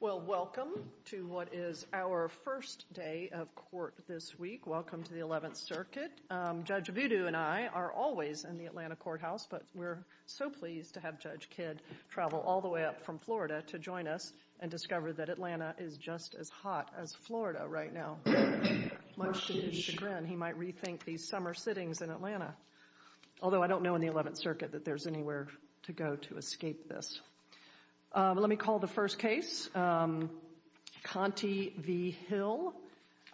Well, welcome to what is our first day of court this week. Welcome to the 11th Circuit. Judge Voodoo and I are always in the Atlanta courthouse, but we're so pleased to have Judge Kidd travel all the way up from Florida to join us and discover that Atlanta is just as hot as Florida right now. Much to his chagrin, he might rethink these summer sittings in Atlanta. Although I don't know in the 11th Circuit that there's anywhere to go to escape this. Let me call the first case, Conte v. Hill.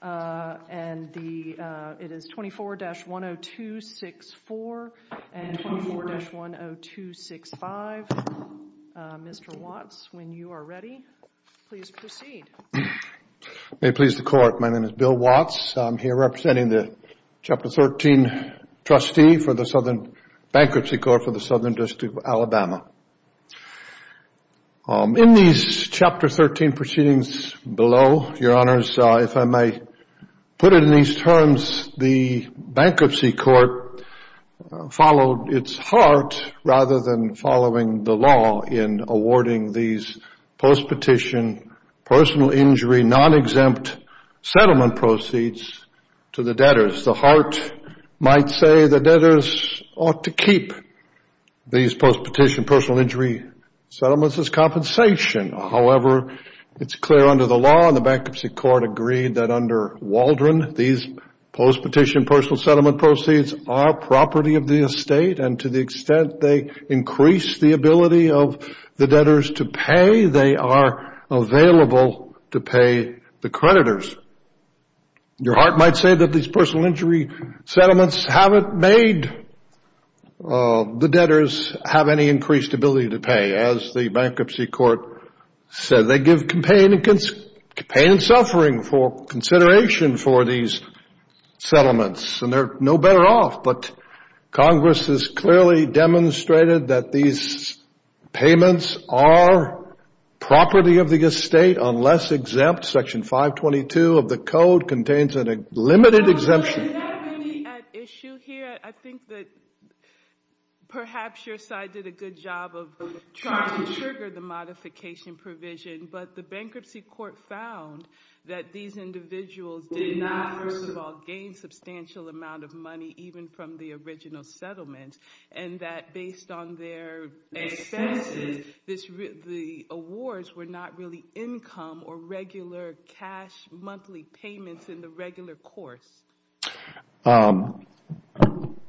It is 24-10264 and 24-10265. Mr. Watts, when you are ready, please proceed. May it please the court, my name is Bill Watts. I'm here representing the Chapter 13 trustee for the Southern Bankruptcy Court for the Southern District of Alabama. In these Chapter 13 proceedings below, Your Honors, if I may put it in these terms, the Bankruptcy non-exempt settlement proceeds to the debtors. The heart might say the debtors ought to keep these post-petition personal injury settlements as compensation. However, it's clear under the law and the Bankruptcy Court agreed that under Waldron, these post-petition personal settlement proceeds are property of the estate and to the extent they increase the ability of the debtors to pay, they are available to pay the creditors. Your heart might say that these personal injury settlements haven't made the debtors have any increased ability to pay. As the Bankruptcy Court said, they give pain and suffering for consideration for these settlements and they're no better off, but Congress has clearly demonstrated that these payments are property of the estate unless exempt. Section 522 of the code contains a limited exemption. Is that really at issue here? I think that perhaps your side did a good job of trying to trigger the modification provision, but the Bankruptcy Court found that these individuals did not, first of all, gain substantial amount of money even from the original settlement and that based on their expenses, the awards were not really income or regular cash monthly payments in the regular course.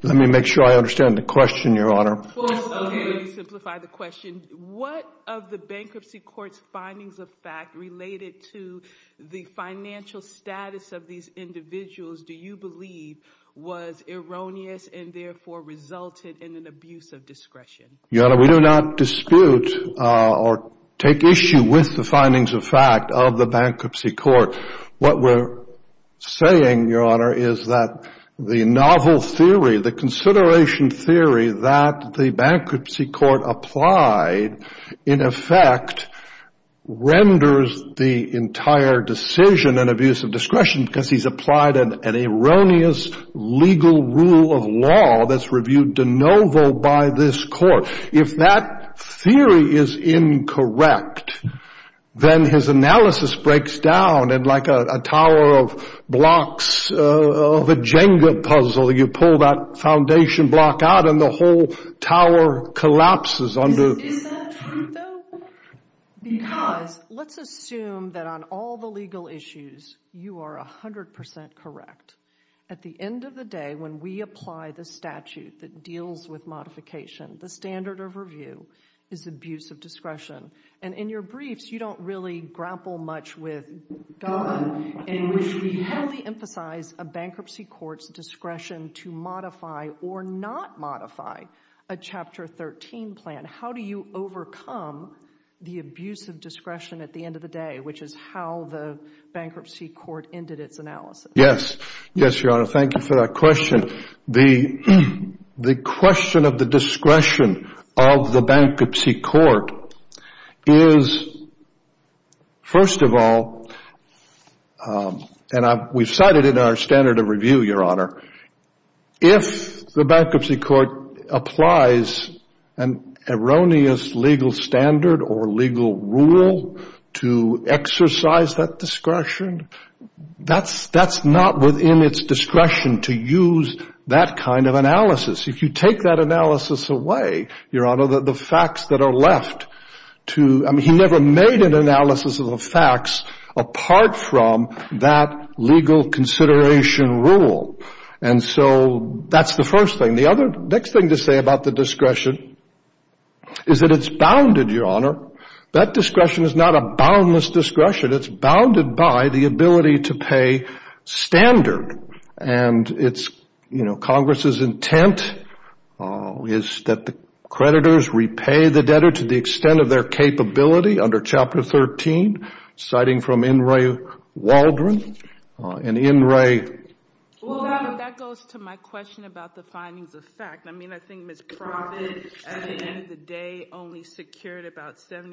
Let me make sure I understand the question, Your Honor. First, let me simplify the question. What of the Bankruptcy Court's findings of fact related to the financial status of these individuals do you believe was erroneous and therefore resulted in an abuse of discretion? Your Honor, we do not dispute or take issue with the findings of fact of the Bankruptcy Court. What we're saying, Your Honor, is that the novel theory, the consideration theory that the Bankruptcy Court applied, in effect, renders the entire decision an abuse of discretion because he's applied an erroneous legal rule of law that's reviewed de novo by this court. If that theory is incorrect, then his analysis breaks down and like a tower of blocks of a Jenga puzzle, you pull that foundation block out and the whole tower collapses. Is that true, though? Because let's assume that on all the legal issues, you are 100% correct. At the end of the day, when we apply the statute that deals with modification, the standard of review is abuse of discretion and in your briefs, you don't really grapple much with God in which we emphasize a Bankruptcy Court's discretion to modify or not modify a Chapter 13 plan. How do you overcome the abuse of discretion at the end of the day, which is how the Bankruptcy Court ended its analysis? Yes, yes, Your Honor. Thank you for that question. The question of the discretion of the Bankruptcy Court is, first of all, and we've cited it in our standard of review, Your Honor, if the Bankruptcy Court applies an erroneous legal standard or legal rule to exercise that discretion, that's not within its discretion to use that kind of analysis. If you take that analysis away, Your Honor, the facts that are left to, I mean, he never made an analysis of the facts apart from that legal consideration rule. And so that's the first thing. The other, next thing to say about the discretion is that it's bounded, Your Honor, it's bounded by the ability to pay standard. And it's, you know, Congress's intent is that the creditors repay the debtor to the extent of their capability under Chapter 13, citing from In re Waldron. And in re... Well, that goes to my question about the findings of fact. I mean, I think Ms. Proffitt at the time had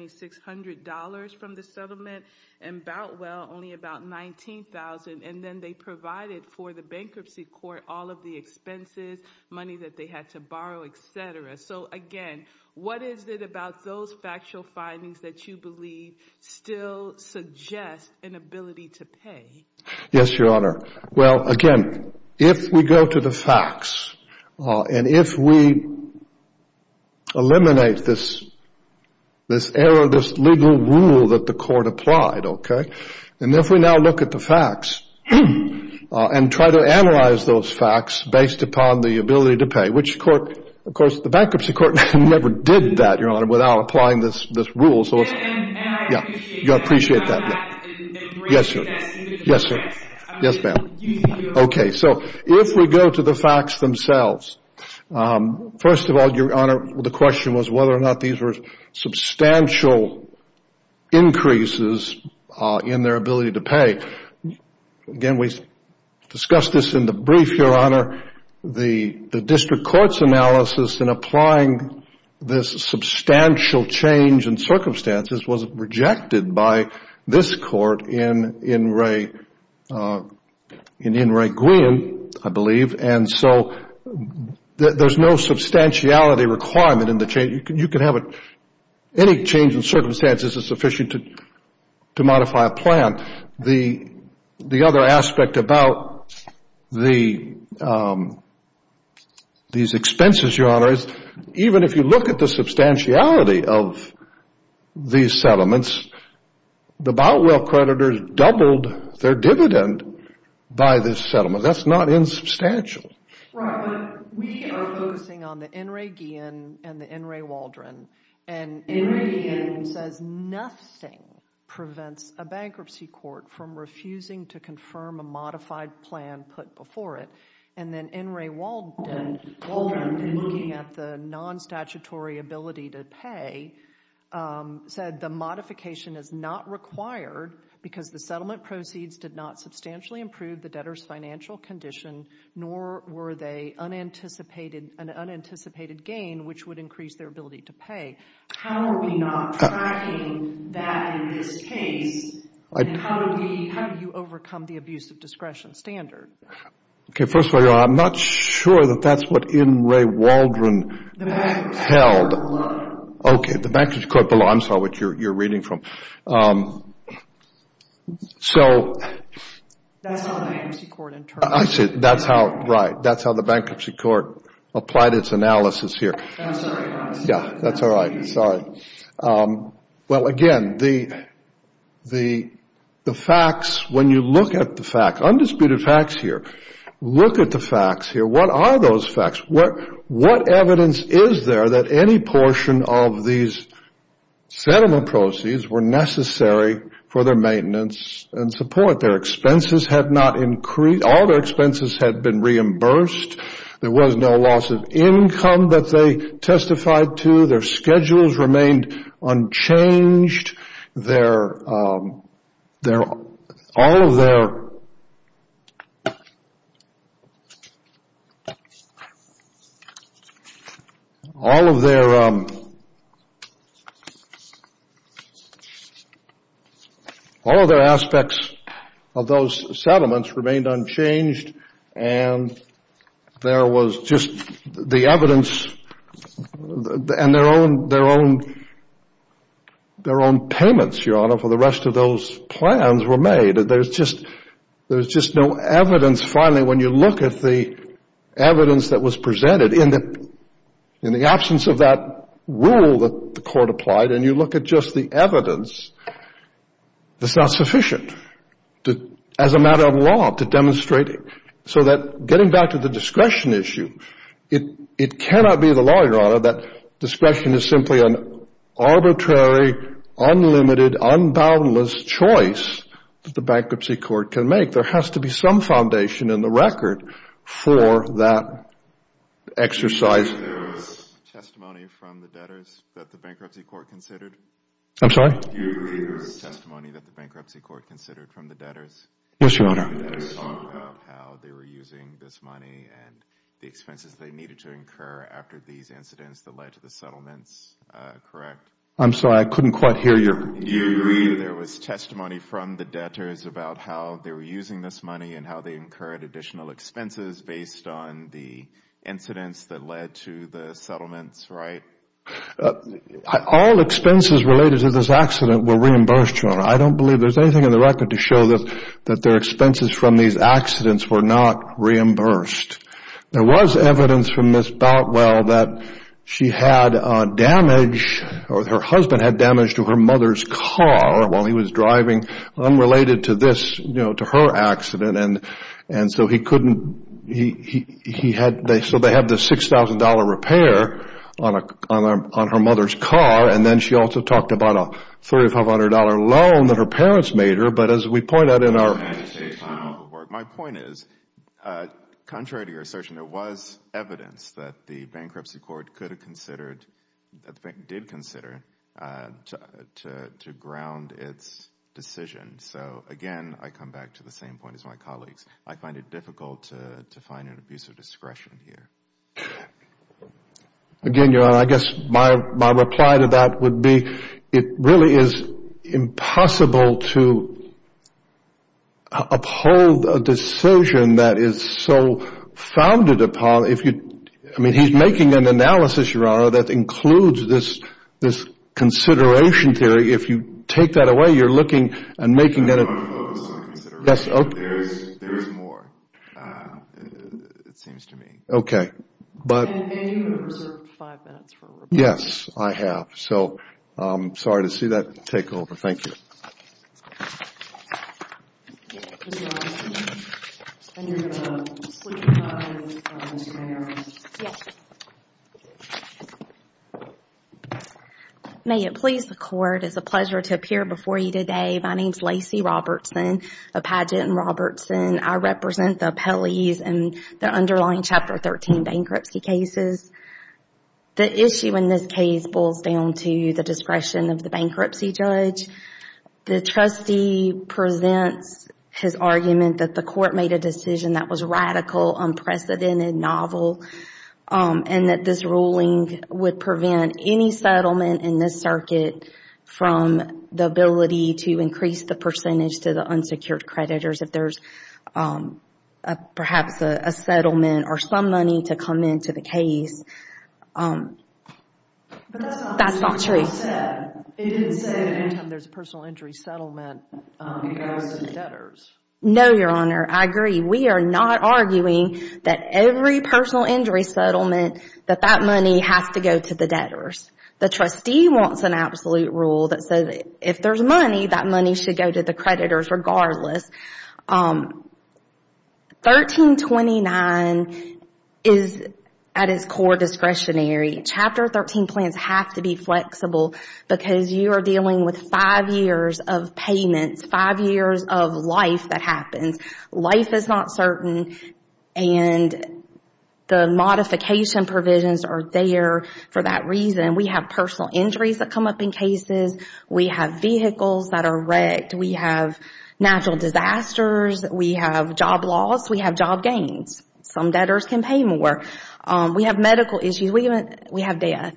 $600 from the settlement and Boutwell only about $19,000. And then they provided for the Bankruptcy Court all of the expenses, money that they had to borrow, et cetera. So again, what is it about those factual findings that you believe still suggest an ability to pay? Yes, Your Honor. Well, again, if we go to the facts and if we eliminate this, this error, this legal rule that the court applied, okay, and if we now look at the facts and try to analyze those facts based upon the ability to pay, which court, of course, the Bankruptcy Court never did that, Your Honor, without applying this rule. So, yeah, you appreciate that. Yes, sir. Yes, sir. Yes, ma'am. Okay, so if we go to the facts themselves, first of all, Your Honor, the question was whether or not these were substantial increases in their ability to pay. Again, we discussed this in the brief, Your Honor. The District Court's analysis in applying this substantial change in circumstances was rejected by this Court in In re Gwian, I believe, and so there's no substantiality requirement in the change. You can have any change in circumstances is sufficient to modify a plan. The other aspect about these expenses, Your Honor, is even if you look at the substantiality of these settlements, the Boutwell creditors doubled their dividend by this settlement. That's not insubstantial. Right, but we are focusing on the In re Gwian and the In re Waldron, and In re Gwian says nothing prevents a Bankruptcy Court from refusing to confirm a modified plan put before it, and then In re Waldron, in looking at the non-statutory ability to pay, said the modification is not required because the settlement proceeds did not substantially improve the debtor's financial condition, nor were they an unanticipated gain, which would increase their ability to pay. How are we not tracking that in this case? And how do you overcome the abuse of discretion standard? Okay, first of all, Your Honor, I'm not sure that that's what In re Waldron The Bankruptcy Court below. Okay, the Bankruptcy Court below. I'm sorry, what you're reading from. That's how the Bankruptcy Court in turn. I see, that's how, right, that's how the Bankruptcy Court applied its analysis here. I'm sorry, Your Honor. Yeah, that's all right. Sorry. Well, again, the facts, when you look at the facts, undisputed facts here, look at the facts here. What are those facts? What evidence is there that any portion of these settlement proceeds were necessary for their maintenance and support? Their expenses had not increased. All their expenses had been reimbursed. There was no loss of income that they testified to. Their schedules remained unchanged. All of their aspects of those settlements remained unchanged, and there was just the evidence and their own payments, Your Honor, for the rest of those plans were made. There's just no evidence. Finally, when you look at the evidence that was presented in the absence of that rule that the court applied, and you look at just the evidence, that's not sufficient as a matter of law to demonstrate it. So that getting back to the discretion issue, it cannot be the law, Your Honor, that discretion is simply an arbitrary, unlimited, unboundless choice that the Bankruptcy Court can make. There has to be some foundation in the record for that exercise. Do you agree with the testimony from the debtors that the Bankruptcy Court considered? I'm sorry? Do you agree with the testimony that the Bankruptcy Court considered from the debtors? Yes, Your Honor. There was testimony from the debtors about how they were using this money and the expenses they needed to incur after these incidents that led to the settlements, correct? I'm sorry, I couldn't quite hear you. Do you agree that there was testimony from the debtors about how they were using this money and how they incurred additional expenses based on the incidents that led to the settlements, right? All expenses related to this accident were reimbursed, Your Honor. I don't believe there's anything in the record to show that their expenses from these accidents were not reimbursed. There was evidence from Ms. Boutwell that she had damage, or her husband had damage to her mother's car while he was driving, unrelated to this, you know, to her accident. And so he couldn't, he had, so they had this $6,000 repair on her mother's car, and then she also talked about a $3,500 loan that her parents made her, but as we point out in our... Your Honor, can you say a final word? My point is, contrary to your assertion, there was evidence that the Bankruptcy Court could have considered, that the Bank did consider, to ground its decision. So again, I come back to the same point as my colleagues. I find it difficult to find an abuse of discretion here. Again, Your Honor, I guess my reply to that would be, it really is impossible to uphold a decision that is so founded upon, if you... I mean, he's making an analysis, Your Honor, that includes this consideration theory. If you take that away, you're looking and making that... I'm not going to focus on consideration theory, but there is more, it seems to me. Okay, but... And you have reserved five minutes for rebuttal. Yes, I have. So, I'm sorry to see that take over. Thank you. Yes, please go ahead, Your Honor. And you're going to sweep the podium, Mr. Harris? Yes. May it please the Court, it's a pleasure to appear before you today. My name is Lacey Robertson of Padgett and Robertson. I represent the appellees in the underlying Chapter 13 bankruptcy cases. The issue in this case boils down to the discretion of the bankruptcy judge. The trustee presents his argument that the court made a decision that was radical, unprecedented, novel, and that this ruling would prevent any settlement in this circuit from the ability to increase the percentage to the unsecured creditors if there's perhaps a settlement or some money to come into the case. That's not true. It didn't say that anytime there's a personal injury settlement, it goes to the debtors. No, Your Honor, I agree. We are not arguing that every personal injury settlement, that that money has to go to the debtors. The trustee wants an absolute rule that says if there's money, that money should go to the creditors regardless. 1329 is at its core discretionary. Chapter 13 plans have to be flexible because you are dealing with five years of payments, five years of life that happens. Life is not certain and the modification provisions are there for that reason. We have personal injuries that come up in cases. We have vehicles that are wrecked. We have natural disasters. We have job loss. We have job gains. Some debtors can pay more. We have medical issues. We have death.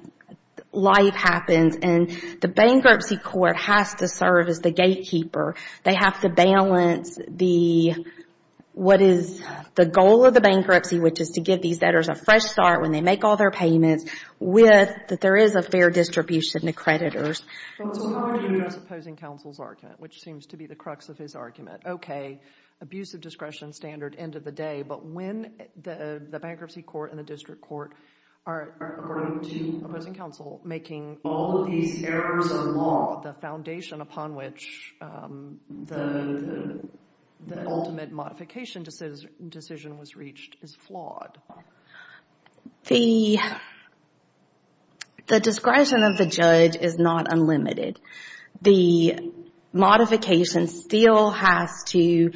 Life happens and the bankruptcy court has to serve as the gatekeeper. They have to balance what is the goal of the bankruptcy, which is to give these debtors a fresh start when they make all their payments, with that there is a fair distribution to creditors. Counsel, how are you as opposing counsel's argument, which seems to be the crux of his Okay, abuse of discretion standard, end of the day, but when the bankruptcy court and district court are, according to opposing counsel, making all of these errors of law, the foundation upon which the ultimate modification decision was reached is flawed. The discretion of the judge is not unlimited. The modification still has to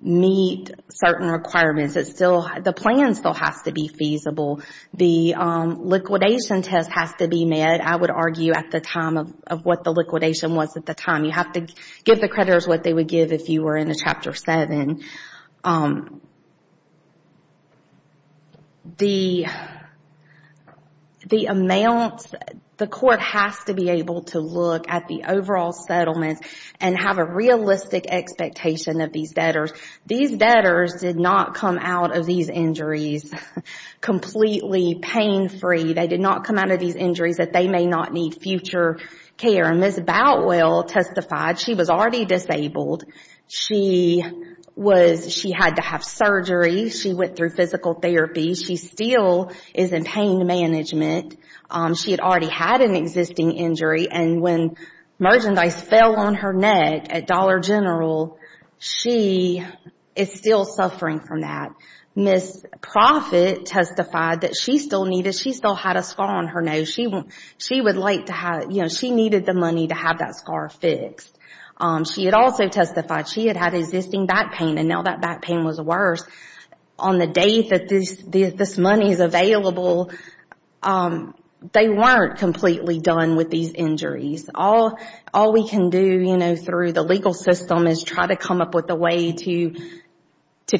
meet certain requirements. The plan still has to be feasible. The liquidation test has to be met, I would argue, at the time of what the liquidation was at the time. You have to give the creditors what they would give if you were in a Chapter 7. The court has to be able to look at the overall settlement and have a realistic expectation of these debtors. These debtors did not come out of these injuries completely pain-free. They did not come out of these injuries that they may not need future care. Ms. Batwell testified she was already disabled. She had to have surgery. She went through physical therapy. She still is in pain management. She had already had an existing injury, and when merchandise fell on her neck at Dollar is still suffering from that. Ms. Proffitt testified that she still had a scar on her nose. She needed the money to have that scar fixed. She had also testified she had had existing back pain, and now that back pain was worse. On the day that this money is available, they weren't completely done with these injuries. All we can do through the legal system is try to come up with a way to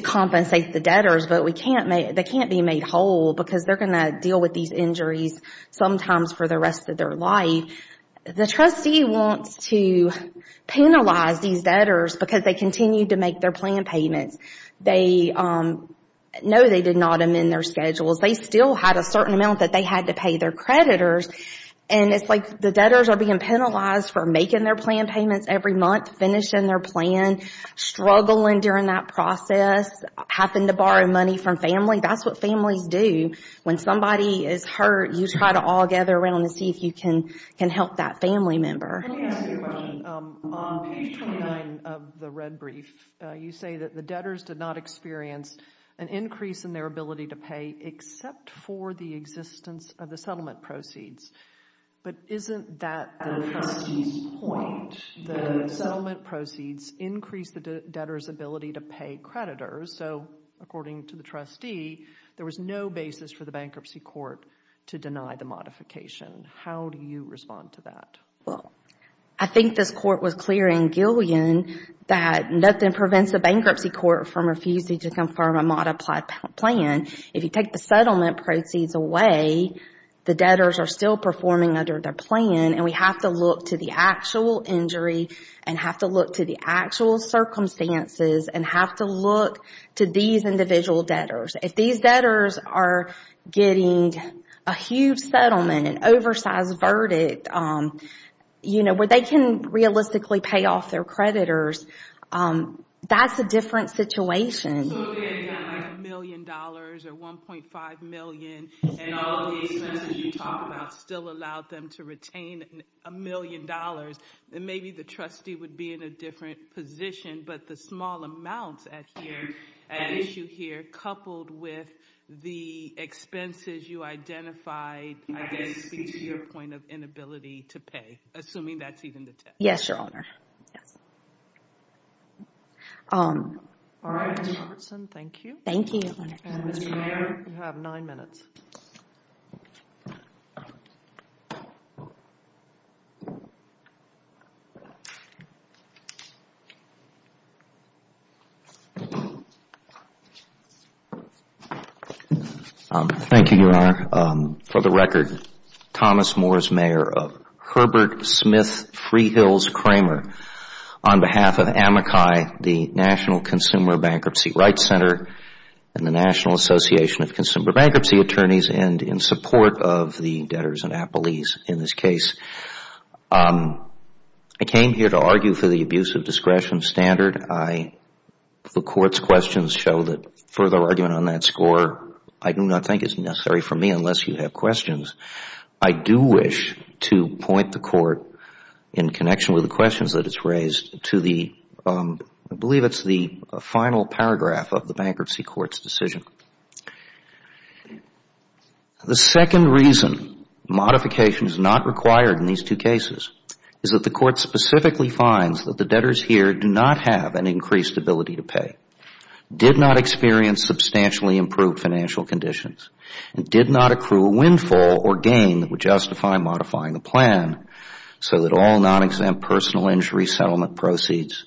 compensate the debtors, but they can't be made whole because they're going to deal with these injuries sometimes for the rest of their life. The trustee wants to penalize these debtors because they continued to make their plan payments. They know they did not amend their schedules. They still had a certain amount that they had to pay their creditors, and it's like the debtors are being penalized for making their plan payments every month, finishing their plan, struggling during that process, having to borrow money from family. That's what families do when somebody is hurt. You try to all gather around and see if you can help that family member. Let me ask you a question. On page 29 of the red brief, you say that the debtors did not experience an increase in their ability to pay except for the existence of the settlement proceeds. But isn't that the trustee's point? The settlement proceeds increase the debtors' ability to pay creditors, so according to the trustee, there was no basis for the bankruptcy court to deny the modification. How do you respond to that? Well, I think this court was clear in Gillian that nothing prevents the bankruptcy court from refusing to confirm a modified plan. If you take the settlement proceeds away, the debtors are still performing under their plan, and we have to look to the actual injury, and have to look to the actual circumstances, and have to look to these individual debtors. If these debtors are getting a huge settlement, an oversized verdict, where they can realistically pay off their creditors, that's a different situation. So if they had $1 million or $1.5 million, and all of the expenses you talk about still allowed them to retain $1 million, then maybe the trustee would be in a different position. But the small amounts at issue here, coupled with the expenses you identified, I guess speak to your point of inability to pay, assuming that's even the case. Yes, Your Honor. All right, Ms. Robertson, thank you. Thank you, Your Honor. And Mr. Mayer, you have nine minutes. Thank you, Your Honor. For the record, Thomas Moore is mayor of Herbert Smith Freehills Kramer, on behalf of AMACI, the National Consumer Bankruptcy Rights Center, and the National Association of Consumer Bankruptcy Attorneys, and in support of the debtors and appellees in this case. I came here to argue for the abuse of discretion standard. The court's questions show that further argument on that score, I do not think is necessary for me unless you have questions. I do wish to point the court, in connection with the questions that it has raised, to the final paragraph of the bankruptcy court's decision. The second reason modification is not required in these two cases is that the court specifically finds that the debtors here do not have an increased ability to pay, did not experience substantially improved financial conditions, and did not accrue a windfall or gain that would justify modifying the plan so that all non-exempt personal injury settlement proceeds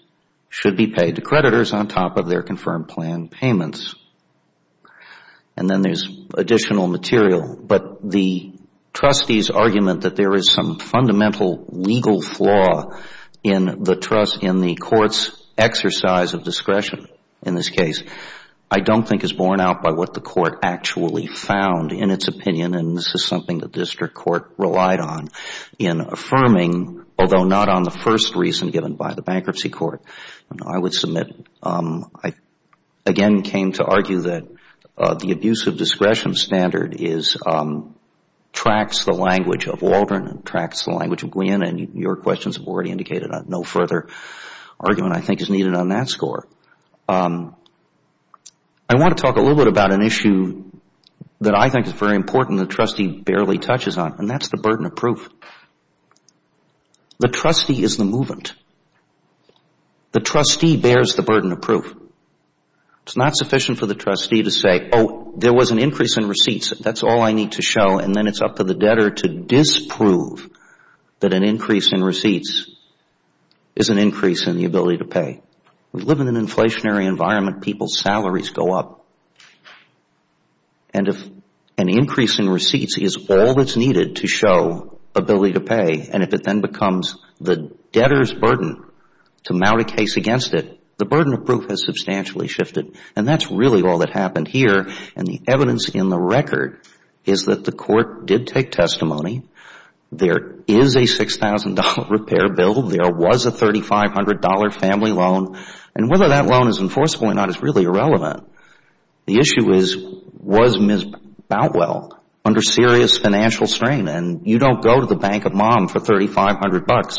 should be paid to creditors on top of their confirmed plan payments. And then there's additional material, but the trustees' argument that there is some fundamental legal flaw in the trust, in the court's exercise of discretion in this case, I don't think is borne out by what the court actually found in its opinion, and this is something the district court relied on in affirming, although not on the first reason given by the bankruptcy court. I would submit, I again came to argue that the abuse of discretion standard tracks the language of Waldron and tracks the language of Gwinn, and your questions have already indicated that no further argument, I think, is needed on that score. I want to talk a little bit about an issue that I think is very important the trustee barely touches on, and that's the burden of proof. The trustee is the movement. The trustee bears the burden of proof. It's not sufficient for the trustee to say, oh, there was an increase in receipts, that's all I need to show, and then it's up to the debtor to disprove that an increase in receipts is an increase in the ability to pay. We live in an inflationary environment. People's salaries go up, and if an increase in receipts is all that's needed to show ability to pay, and if it then becomes the debtor's burden to mount a case against it, the burden of proof has substantially shifted, and that's really all that happened here, and the evidence in the record is that the court did take testimony. There is a $6,000 repair bill. There was a $3,500 family loan, and whether that loan is enforceable or not is really irrelevant. The issue is was Ms. Boutwell under serious financial strain, and you don't go to the bank of mom for $3,500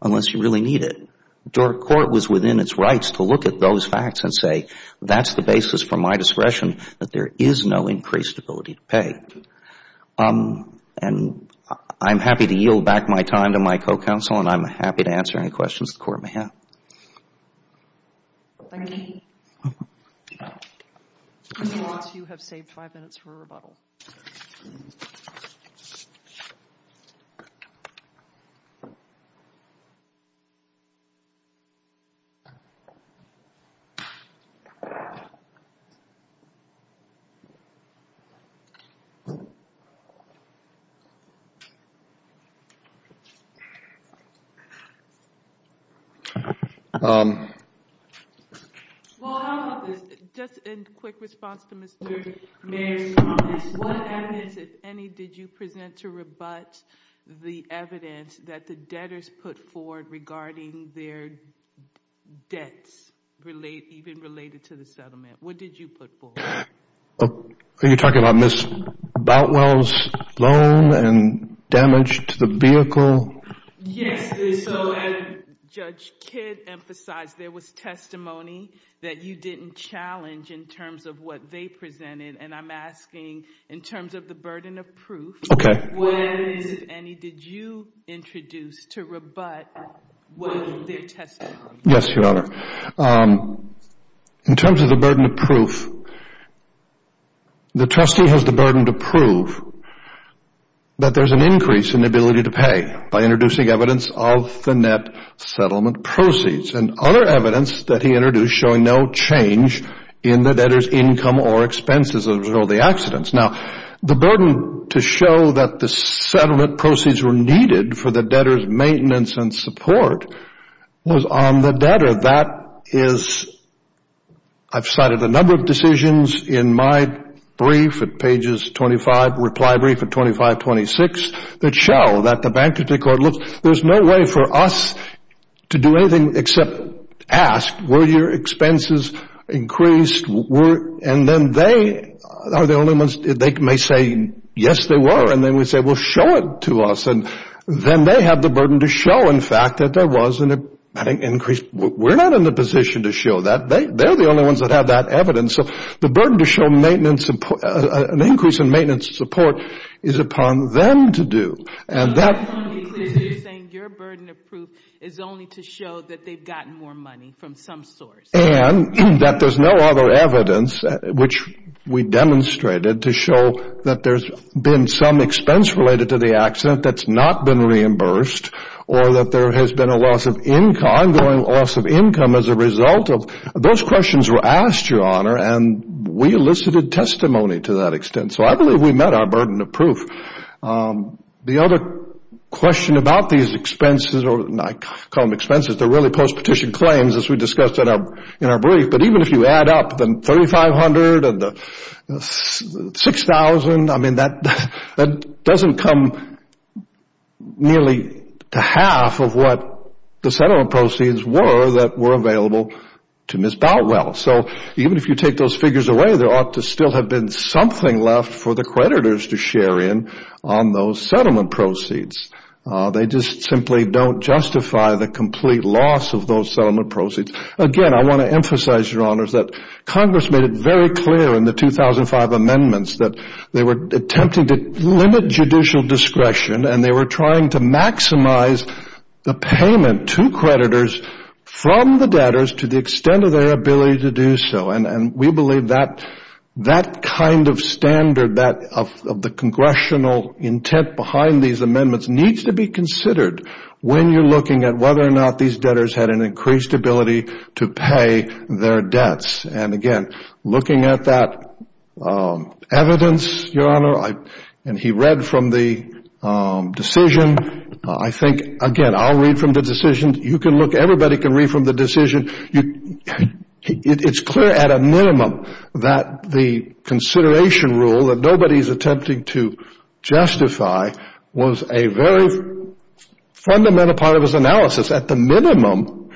unless you really need it. The court was within its rights to look at those facts and say that's the basis for my discretion that there is no increased ability to pay, and I'm happy to yield back my time to my co-counsel, and I'm happy to answer any questions the court may have. Thank you. Ms. Watts, you have saved five minutes for a rebuttal. Well, just in quick response to Mr. Mayer's comments, what evidence, if any, did you present to rebut the evidence that the debtors put forward regarding their debts even related to the settlement? What did you put forward? Are you talking about Ms. Boutwell's loan and damage to the vehicle? Yes, so Judge Kidd emphasized there was testimony that you didn't challenge in terms of what they presented, and I'm asking in terms of the burden of proof, what evidence, if any, did you introduce to rebut their testimony? Yes, Your Honor. In terms of the burden of proof, the trustee has the burden to prove that there's an increase in the ability to pay by introducing evidence of the net settlement proceeds and other evidence that he introduced showing no change in the debtor's income or expenses as a result of the accidents. Now, the burden to show that the settlement proceeds were needed for the debtor's maintenance and support was on the debtor. That is, I've cited a number of decisions in my brief at pages 25, reply brief at 25-26 that show that the bankruptcy court looks. There's no way for us to do anything except ask, were your expenses increased, and then they are the only ones. They may say, yes, they were, and then we say, well, show it to us, and then they have the burden to show, in fact, that there was an increase. We're not in the position to show that. They're the only ones that have that evidence. The burden to show an increase in maintenance and support is upon them to do, and that... You're saying your burden of proof is only to show that they've gotten more money from some source. That there's no other evidence, which we demonstrated, to show that there's been some expense related to the accident that's not been reimbursed, or that there has been a loss of income as a result of... Those questions were asked, Your Honor, and we elicited testimony to that extent. I believe we met our burden of proof. The other question about these expenses, or I call them expenses, they're really post-petition claims as we discussed in our brief, but even if you add up the $3,500 and the $6,000, that doesn't come nearly to half of what the settlement proceeds were that were available to Ms. Boutwell. So even if you take those figures away, there ought to still have been something left for the creditors to share in on those settlement proceeds. They just simply don't justify the complete loss of those settlement proceeds. Again, I want to emphasize, Your Honors, that Congress made it very clear in the 2005 amendments that they were attempting to limit judicial discretion and they were trying to maximize the payment to creditors from the debtors to the extent of their ability to do so. We believe that kind of standard of the congressional intent behind these amendments needs to be considered when you're looking at whether or not these debtors had an increased ability to pay their debts. Again, looking at that evidence, Your Honor, and he read from the decision. I think, again, I'll read from the decision. You can look, everybody can read from the decision. It's clear at a minimum that the consideration rule that nobody's attempting to justify was a very fundamental part of his analysis. At the minimum,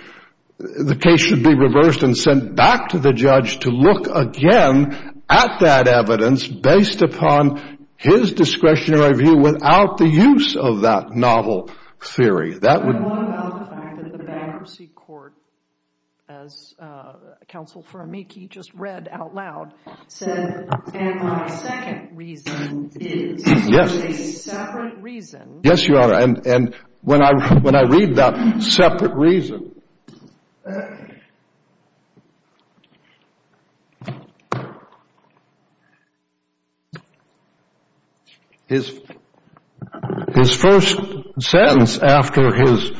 the case should be reversed and sent back to the judge to look again at that evidence based upon his discretionary view without the use of that novel theory. What about the fact that the bankruptcy court, as Counsel for Amici just read out loud, said, and my second reason is, there's a separate reason. Yes, Your Honor, and when I read that separate reason, his first sentence after his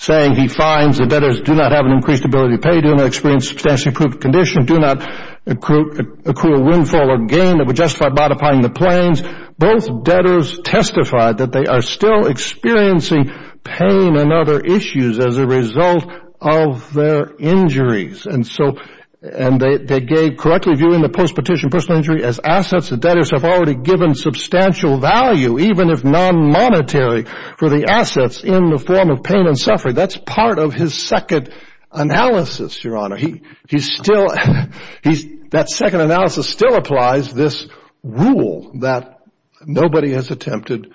saying he finds the debtors do not have an increased ability to pay, do not experience substantially accrued condition, do not accrue a windfall or gain that would justify modifying the plans, both debtors testified that they are still experiencing pain and other issues as a result of their injuries. They gave correctly viewing the post-petition personal injury as assets the debtors have already given substantial value, even if non-monetary, for the assets in the form of pain and suffering. That's part of his second analysis, Your Honor. That second analysis still applies this rule that nobody has attempted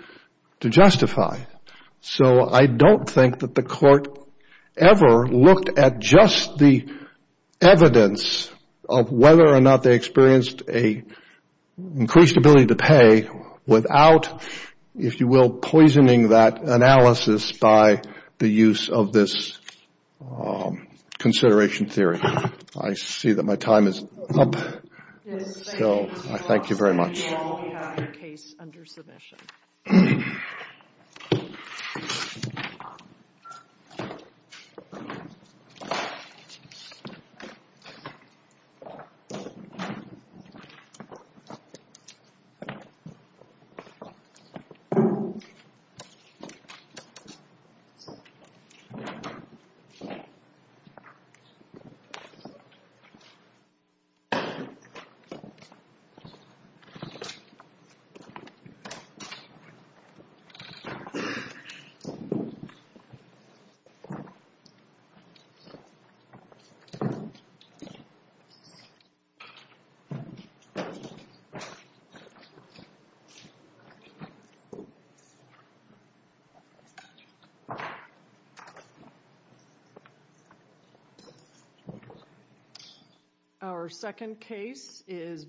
to justify. I don't think that the court ever looked at just the evidence of whether or not they experienced an increased ability to pay without, if you will, poisoning that analysis by the use of this consideration theory. I see that my time is up. Thank you very much. Thank you. Thank you. Our second case is